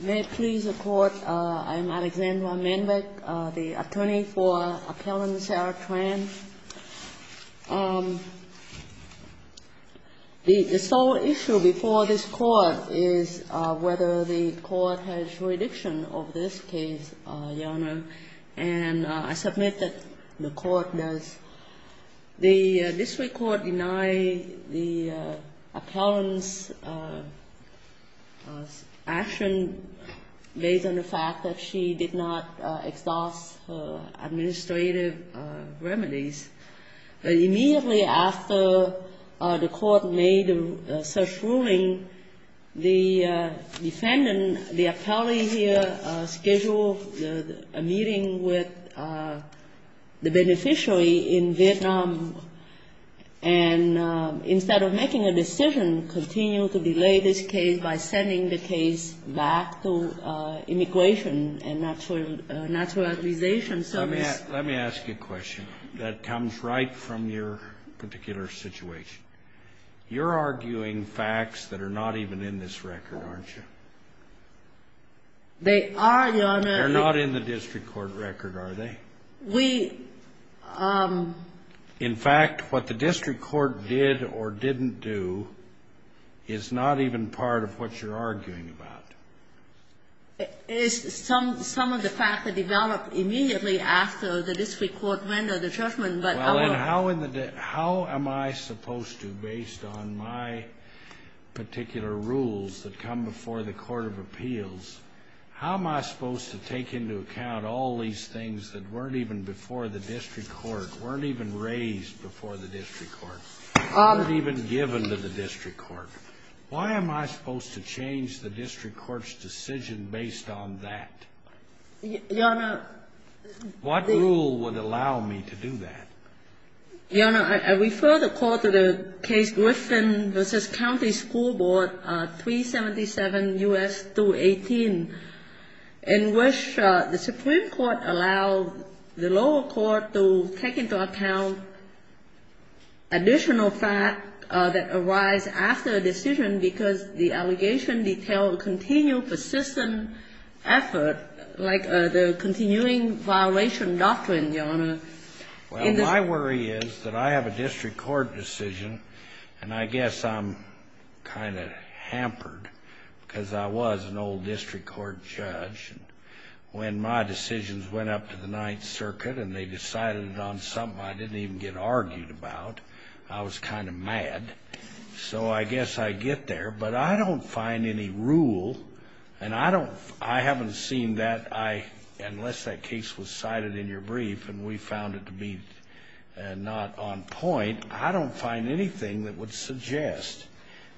May it please the Court, I am Alexandra Manbeck, the attorney for Appellant Sarah Tran. The sole issue before this Court is whether the Court has jurisdiction over this case, Your Honor, and I submit that the Court does. The district court denied the appellant's action based on the fact that she did not exhaust her administrative remedies. But immediately after the Court made such ruling, the defendant, the appellee here, scheduled a meeting with the beneficiary in Vietnam, and instead of making a decision, continued to delay this case by sending the case back to Immigration and Naturalization Service. Let me ask you a question that comes right from your particular situation. You're arguing facts that are not even in this record, aren't you? They are, Your Honor. They're not in the district court record, are they? We... In fact, what the district court did or didn't do is not even part of what you're arguing about. It is some of the facts that developed immediately after the district court rendered the judgment, but our... Well, and how in the day... How am I supposed to, based on my particular rules that come before the court of appeals, how am I supposed to take into account all these things that weren't even before the district court, weren't even raised before the district court, weren't even given to the district court? Why am I supposed to change the district court's decision based on that? Your Honor... What rule would allow me to do that? Your Honor, I refer the court to the Case Griffin v. County School Board, 377 U.S. 218, in which the Supreme Court allowed the lower court to take into account additional facts that arise after a decision because the allegations detail a continual, persistent effort, like the continuing violation doctrine, Your Honor. Well, my worry is that I have a district court decision, and I guess I'm kind of hampered because I was an old district court judge. When my decisions went up to the Ninth Circuit and they decided it on something I didn't even get argued about, I was kind of mad. So I guess I get there. But I don't find any rule, and I haven't seen that, unless that case was cited in your brief and we found it to be not on point, I don't find anything that would suggest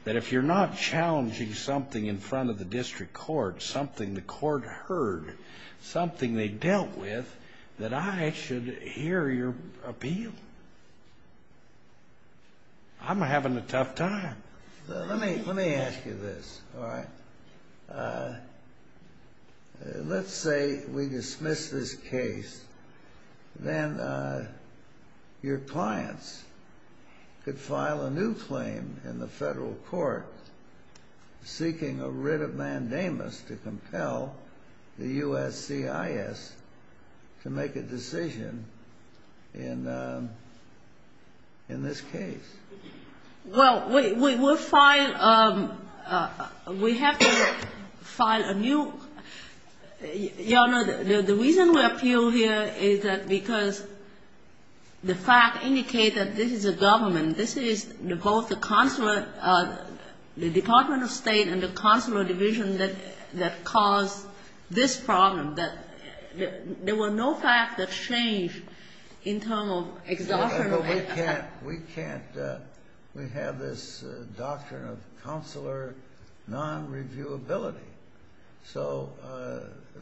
that if you're not challenging something in front of the district court, something the court heard, something they dealt with, that I should hear your appeal. I'm having a tough time. Let me ask you this, all right? Let's say we dismiss this case. Then your clients could file a new claim in the federal court seeking a writ of mandamus to compel the USCIS to make a decision in this case. Well, we would file we have to file a new Your Honor, the reason we appeal here is that because the fact indicates that this is a government. This is both the consular, the Department of State and the consular division that caused this problem. There were no facts that changed in terms of exhaustion. We can't, we have this doctrine of consular non-reviewability. So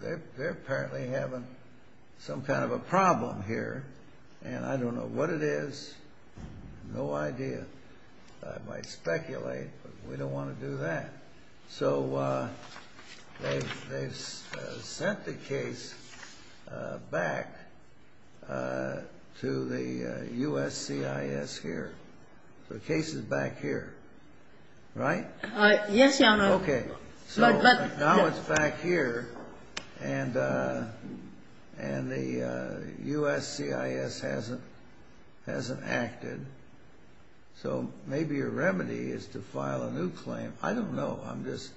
they're apparently having some kind of a problem here. And I don't know what it is. No idea. I might speculate, but we don't want to do that. So they've sent the case back to the USCIS here. The case is back here, right? Yes, Your Honor. Okay. So now it's back here, and the USCIS hasn't acted. So maybe your remedy is to file a new claim. I don't know. I'm just,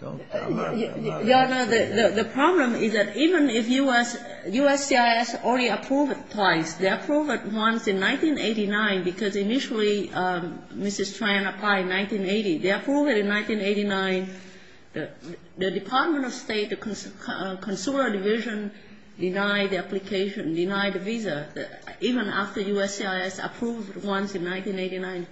don't tell me. Your Honor, the problem is that even if USCIS already approved it twice, they approved it once in 1989 because initially Mrs. Tran applied in 1980. They approved it in 1989. The Department of State, the consular division denied the application, denied the visa, even after USCIS approved it once in 1989.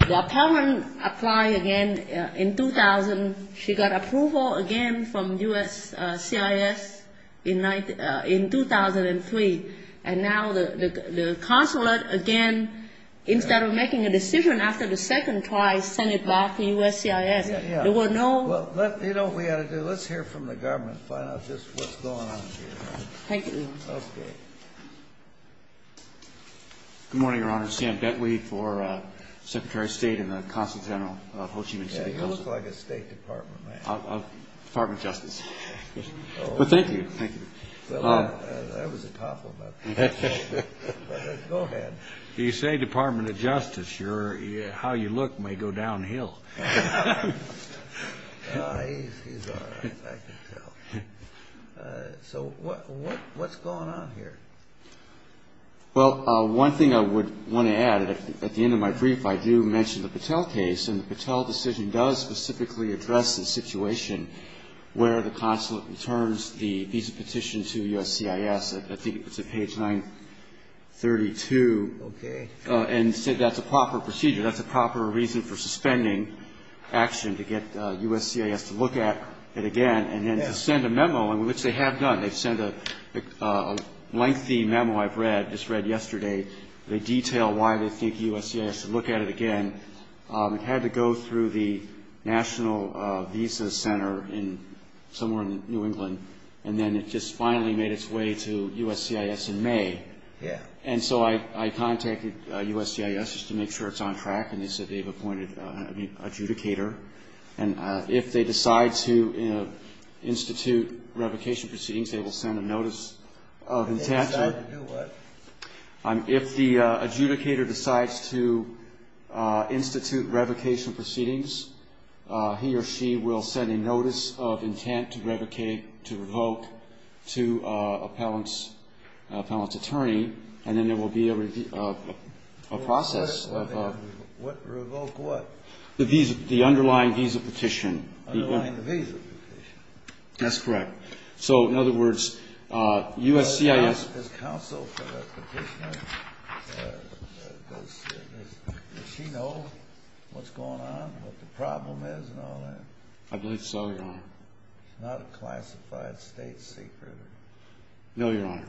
The appellant applied again in 2000. She got approval again from USCIS in 2003. And now the consulate, again, instead of making a decision after the second try, sent it back to USCIS. There were no ---- Well, you know what we ought to do. Let's hear from the government and find out just what's going on here. Thank you, Your Honor. Okay. Good morning, Your Honor. Sam Bentley for Secretary of State and the Consulate General of Ho Chi Minh City Consulate. Yeah, you look like a State Department man. Department of Justice. Well, thank you. Thank you. That was a compliment. Go ahead. You say Department of Justice. How you look may go downhill. He's all right, I can tell. So what's going on here? Well, one thing I would want to add, at the end of my brief I do mention the Patel case, and the Patel decision does specifically address the situation where the consulate returns the visa petition to USCIS. I think it's at page 932. Okay. And said that's a proper procedure, that's a proper reason for suspending action to get USCIS to look at it again and then to send a memo, which they have done. They've sent a lengthy memo I've read, just read yesterday. They detail why they think USCIS should look at it again. It had to go through the National Visa Center somewhere in New England, and then it just finally made its way to USCIS in May. Yeah. And so I contacted USCIS just to make sure it's on track, and they said they've appointed an adjudicator. And if they decide to institute revocation proceedings, they will send a notice of intent. If they decide to do what? If the adjudicator decides to institute revocation proceedings, he or she will send a notice of intent to revoke to an appellant's attorney, and then there will be a process. Revoke what? The underlying visa petition. Underlying the visa petition. That's correct. So, in other words, USCIS. Does counsel for the petitioner, does she know what's going on, what the problem is and all that? I believe so, Your Honor. It's not a classified state secret. No, Your Honor.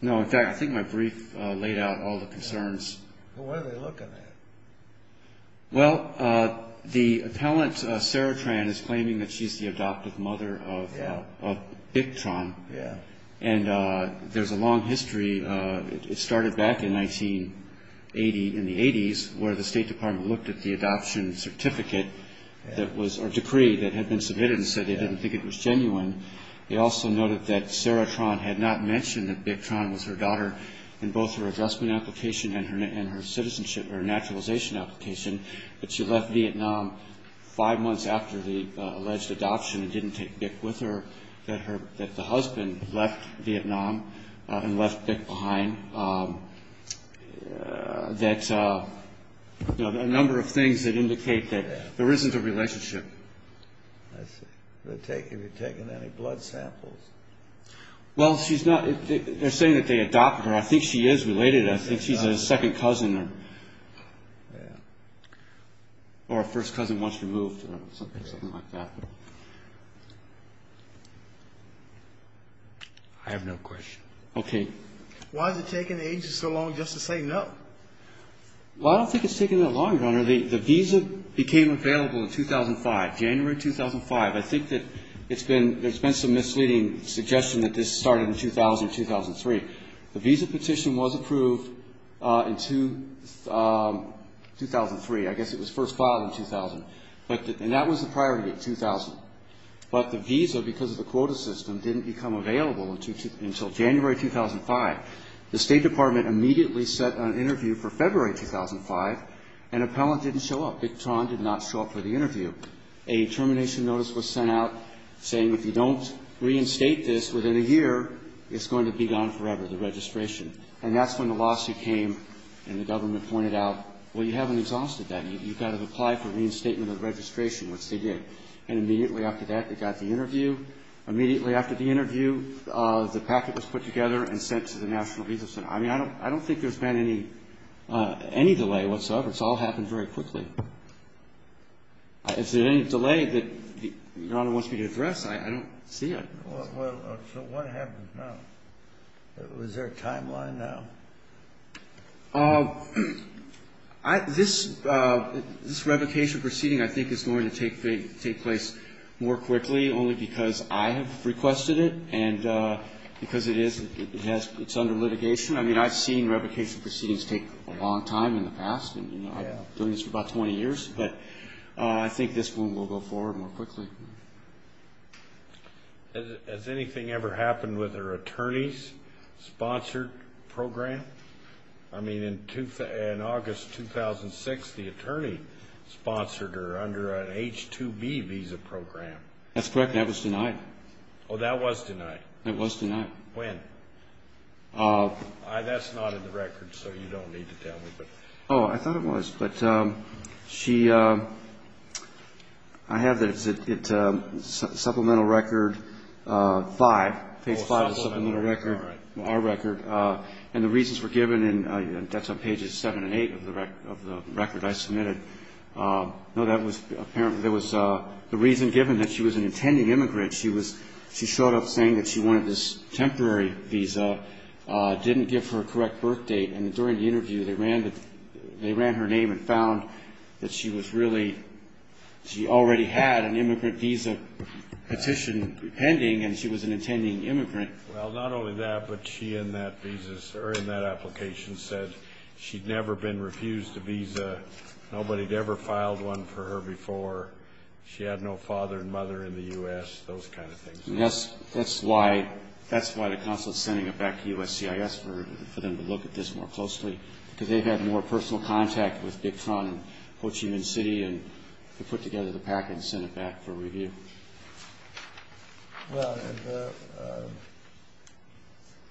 No, in fact, I think my brief laid out all the concerns. What are they looking at? Well, the appellant, Sarah Tran, is claiming that she's the adoptive mother of Bick Tran. Yeah. And there's a long history. It started back in 1980, in the 80s, where the State Department looked at the adoption certificate that was or decree that had been submitted and said they didn't think it was genuine. They also noted that Sarah Tran had not mentioned that Bick Tran was her daughter in both her addressment application and her citizenship or naturalization application, that she left Vietnam five months after the alleged adoption and didn't take Bick with her, that the husband left Vietnam and left Bick behind, that a number of things that indicate that there isn't a relationship. Have you taken any blood samples? Well, she's not. They're saying that they adopted her. I think she is related. I think she's a second cousin or a first cousin once removed or something like that. I have no question. Okay. Why is it taking the agency so long just to say no? Well, I don't think it's taking that long, Your Honor. The visa became available in 2005, January 2005. I think that there's been some misleading suggestion that this started in 2000 or 2003. The visa petition was approved in 2003. I guess it was first filed in 2000. And that was the priority, 2000. But the visa, because of the quota system, didn't become available until January 2005. The State Department immediately set an interview for February 2005. An appellant didn't show up. Bick Tran did not show up for the interview. A termination notice was sent out saying if you don't reinstate this within a year, it's going to be gone forever, the registration. And that's when the lawsuit came and the government pointed out, well, you haven't exhausted that. You've got to apply for reinstatement of registration, which they did. And immediately after that, they got the interview. Immediately after the interview, the packet was put together and sent to the National Visa Center. I mean, I don't think there's been any delay whatsoever. It's all happened very quickly. Is there any delay that Your Honor wants me to address? I don't see it. Well, so what happened now? Was there a timeline now? This revocation proceeding, I think, is going to take place more quickly only because I have requested it and because it's under litigation. I mean, I've seen revocation proceedings take a long time in the past. I've been doing this for about 20 years. But I think this one will go forward more quickly. Has anything ever happened with her attorney's sponsored program? I mean, in August 2006, the attorney sponsored her under an H-2B visa program. That's correct. That was denied. Oh, that was denied? That was denied. When? That's not in the record, so you don't need to tell me. Oh, I thought it was. But she – I have it. It's Supplemental Record 5. Oh, Supplemental Record, all right. Our record. And the reasons were given, and that's on pages 7 and 8 of the record I submitted. No, that was – there was the reason given that she was an intending immigrant. She showed up saying that she wanted this temporary visa, didn't give her a correct birth date, and during the interview they ran her name and found that she was really – she already had an immigrant visa petition pending and she was an intending immigrant. Well, not only that, but she in that visa – or in that application said she'd never been refused a visa. Nobody had ever filed one for her before. She had no father and mother in the U.S., those kind of things. That's why the consulate's sending it back to USCIS for them to look at this more closely, because they've had more personal contact with Big Tron and Ho Chi Minh City, and they put together the package and sent it back for review. Well, have the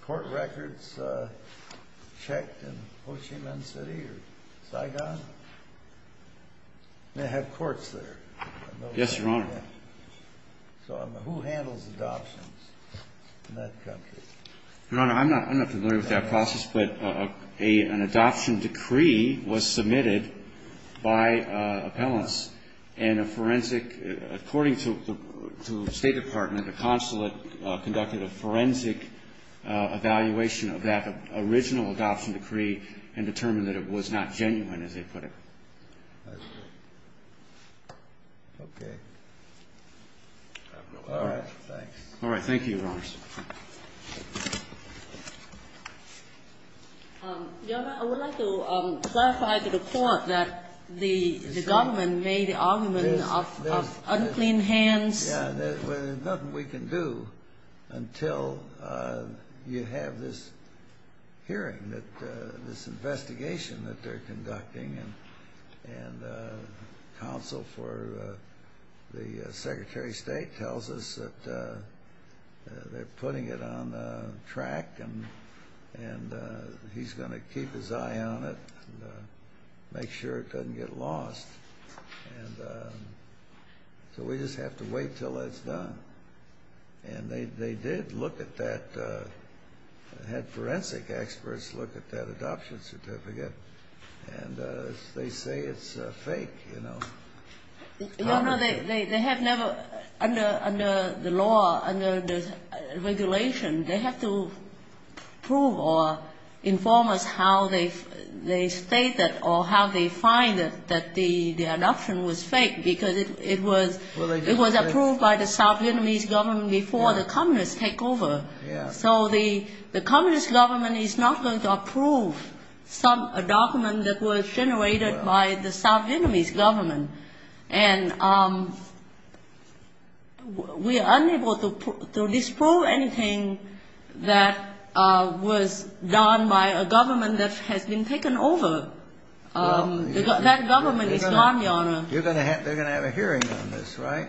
court records checked in Ho Chi Minh City or Saigon? They have courts there. Yes, Your Honor. So who handles adoptions in that country? Your Honor, I'm not familiar with that process, but an adoption decree was submitted by appellants, and a forensic – according to the State Department, the consulate conducted a forensic evaluation of that original adoption decree and determined that it was not genuine, as they put it. Okay. All right. Thanks. All right. Thank you, Your Honor. Thank you, Your Honor. Your Honor, I would like to clarify to the court that the government made the argument of unclean hands. Yeah, there's nothing we can do until you have this hearing, this investigation that they're conducting, and counsel for the Secretary of State tells us that they're putting it on track and he's going to keep his eye on it and make sure it doesn't get lost. And so we just have to wait until it's done. And they did look at that – had forensic experts look at that adoption certificate, and they say it's fake, you know. Your Honor, they have never – under the law, under the regulation, they have to prove or inform us how they state that or how they find that the adoption was fake because it was approved by the South Vietnamese government before the communists take over. So the communist government is not going to approve a document that was generated by the South Vietnamese government. And we are unable to disprove anything that was done by a government that has been taken over. That government is gone, Your Honor. They're going to have a hearing on this, right,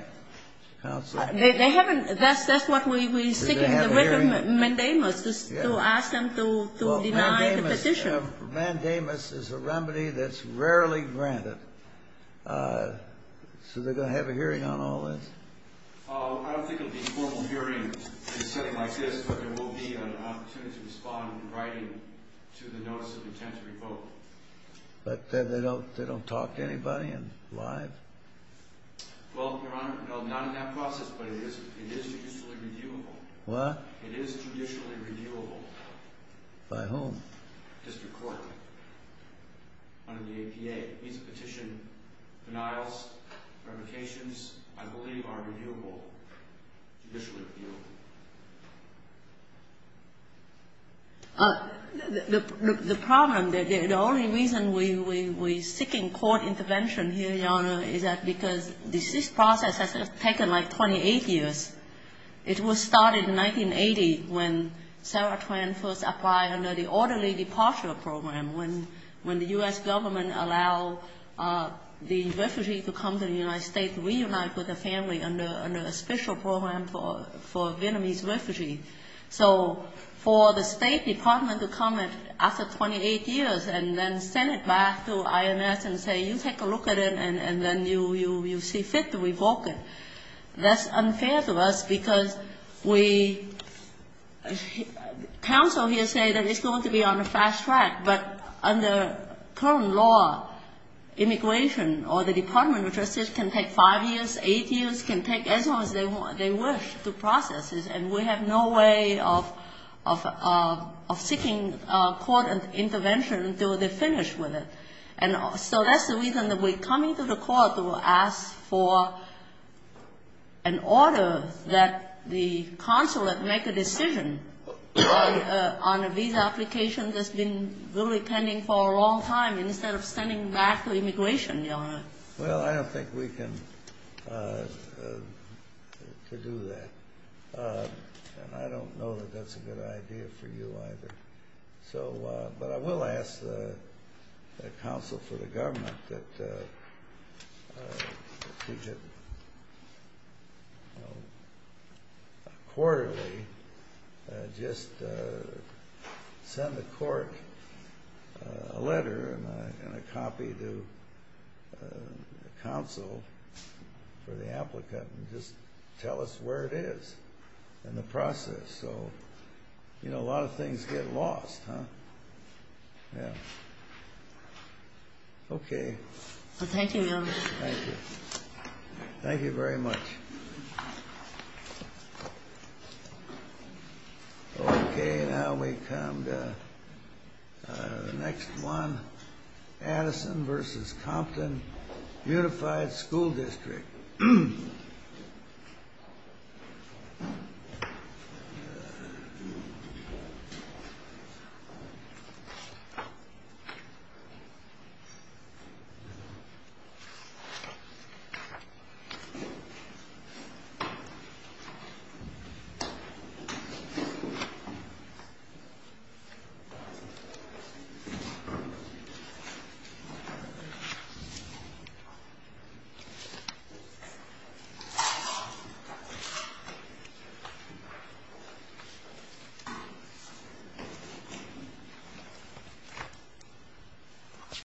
counsel? They haven't – that's what we seek in the written mandamus, to ask them to deny the petition. Mandamus is a remedy that's rarely granted. So they're going to have a hearing on all this? I don't think it will be a formal hearing in a setting like this, but there will be an opportunity to respond in writing to the notice of intent to revoke. But they don't talk to anybody in live? Well, Your Honor, no, not in that process, but it is judicially reviewable. What? It is judicially reviewable. By whom? District Court, under the APA. It means the petition denials, verifications, I believe are reviewable, judicially reviewable. The problem, the only reason we're seeking court intervention here, Your Honor, is that because this process has taken like 28 years. It was started in 1980 when Sarah Tran first applied under the orderly departure program, when the U.S. government allowed the refugee to come to the United States to reunite with her family under a special program for Vietnamese refugees. So for the State Department to come after 28 years and then send it back to IMS and say, you take a look at it and then you see fit to revoke it, that's unfair to us because we, counsel here say that it's going to be on the fast track, but under current law, immigration or the Department of Justice can take five years, eight years, can take as long as they wish to process this, and we have no way of seeking court intervention until they finish with it. And so that's the reason that we're coming to the court to ask for an order that the consulate make a decision on a visa application that's been really pending for a long time instead of sending back the immigration. Well, I don't think we can do that, and I don't know that that's a good idea for you either. But I will ask the counsel for the government that we should quarterly just send the court a letter and a copy to counsel for the applicant and just tell us where it is in the process. So, you know, a lot of things get lost, huh? Yeah. Thank you, Your Honor. Thank you. Thank you very much. Okay, now we come to the next one, Addison v. Compton Unified School District. Addison. Addison.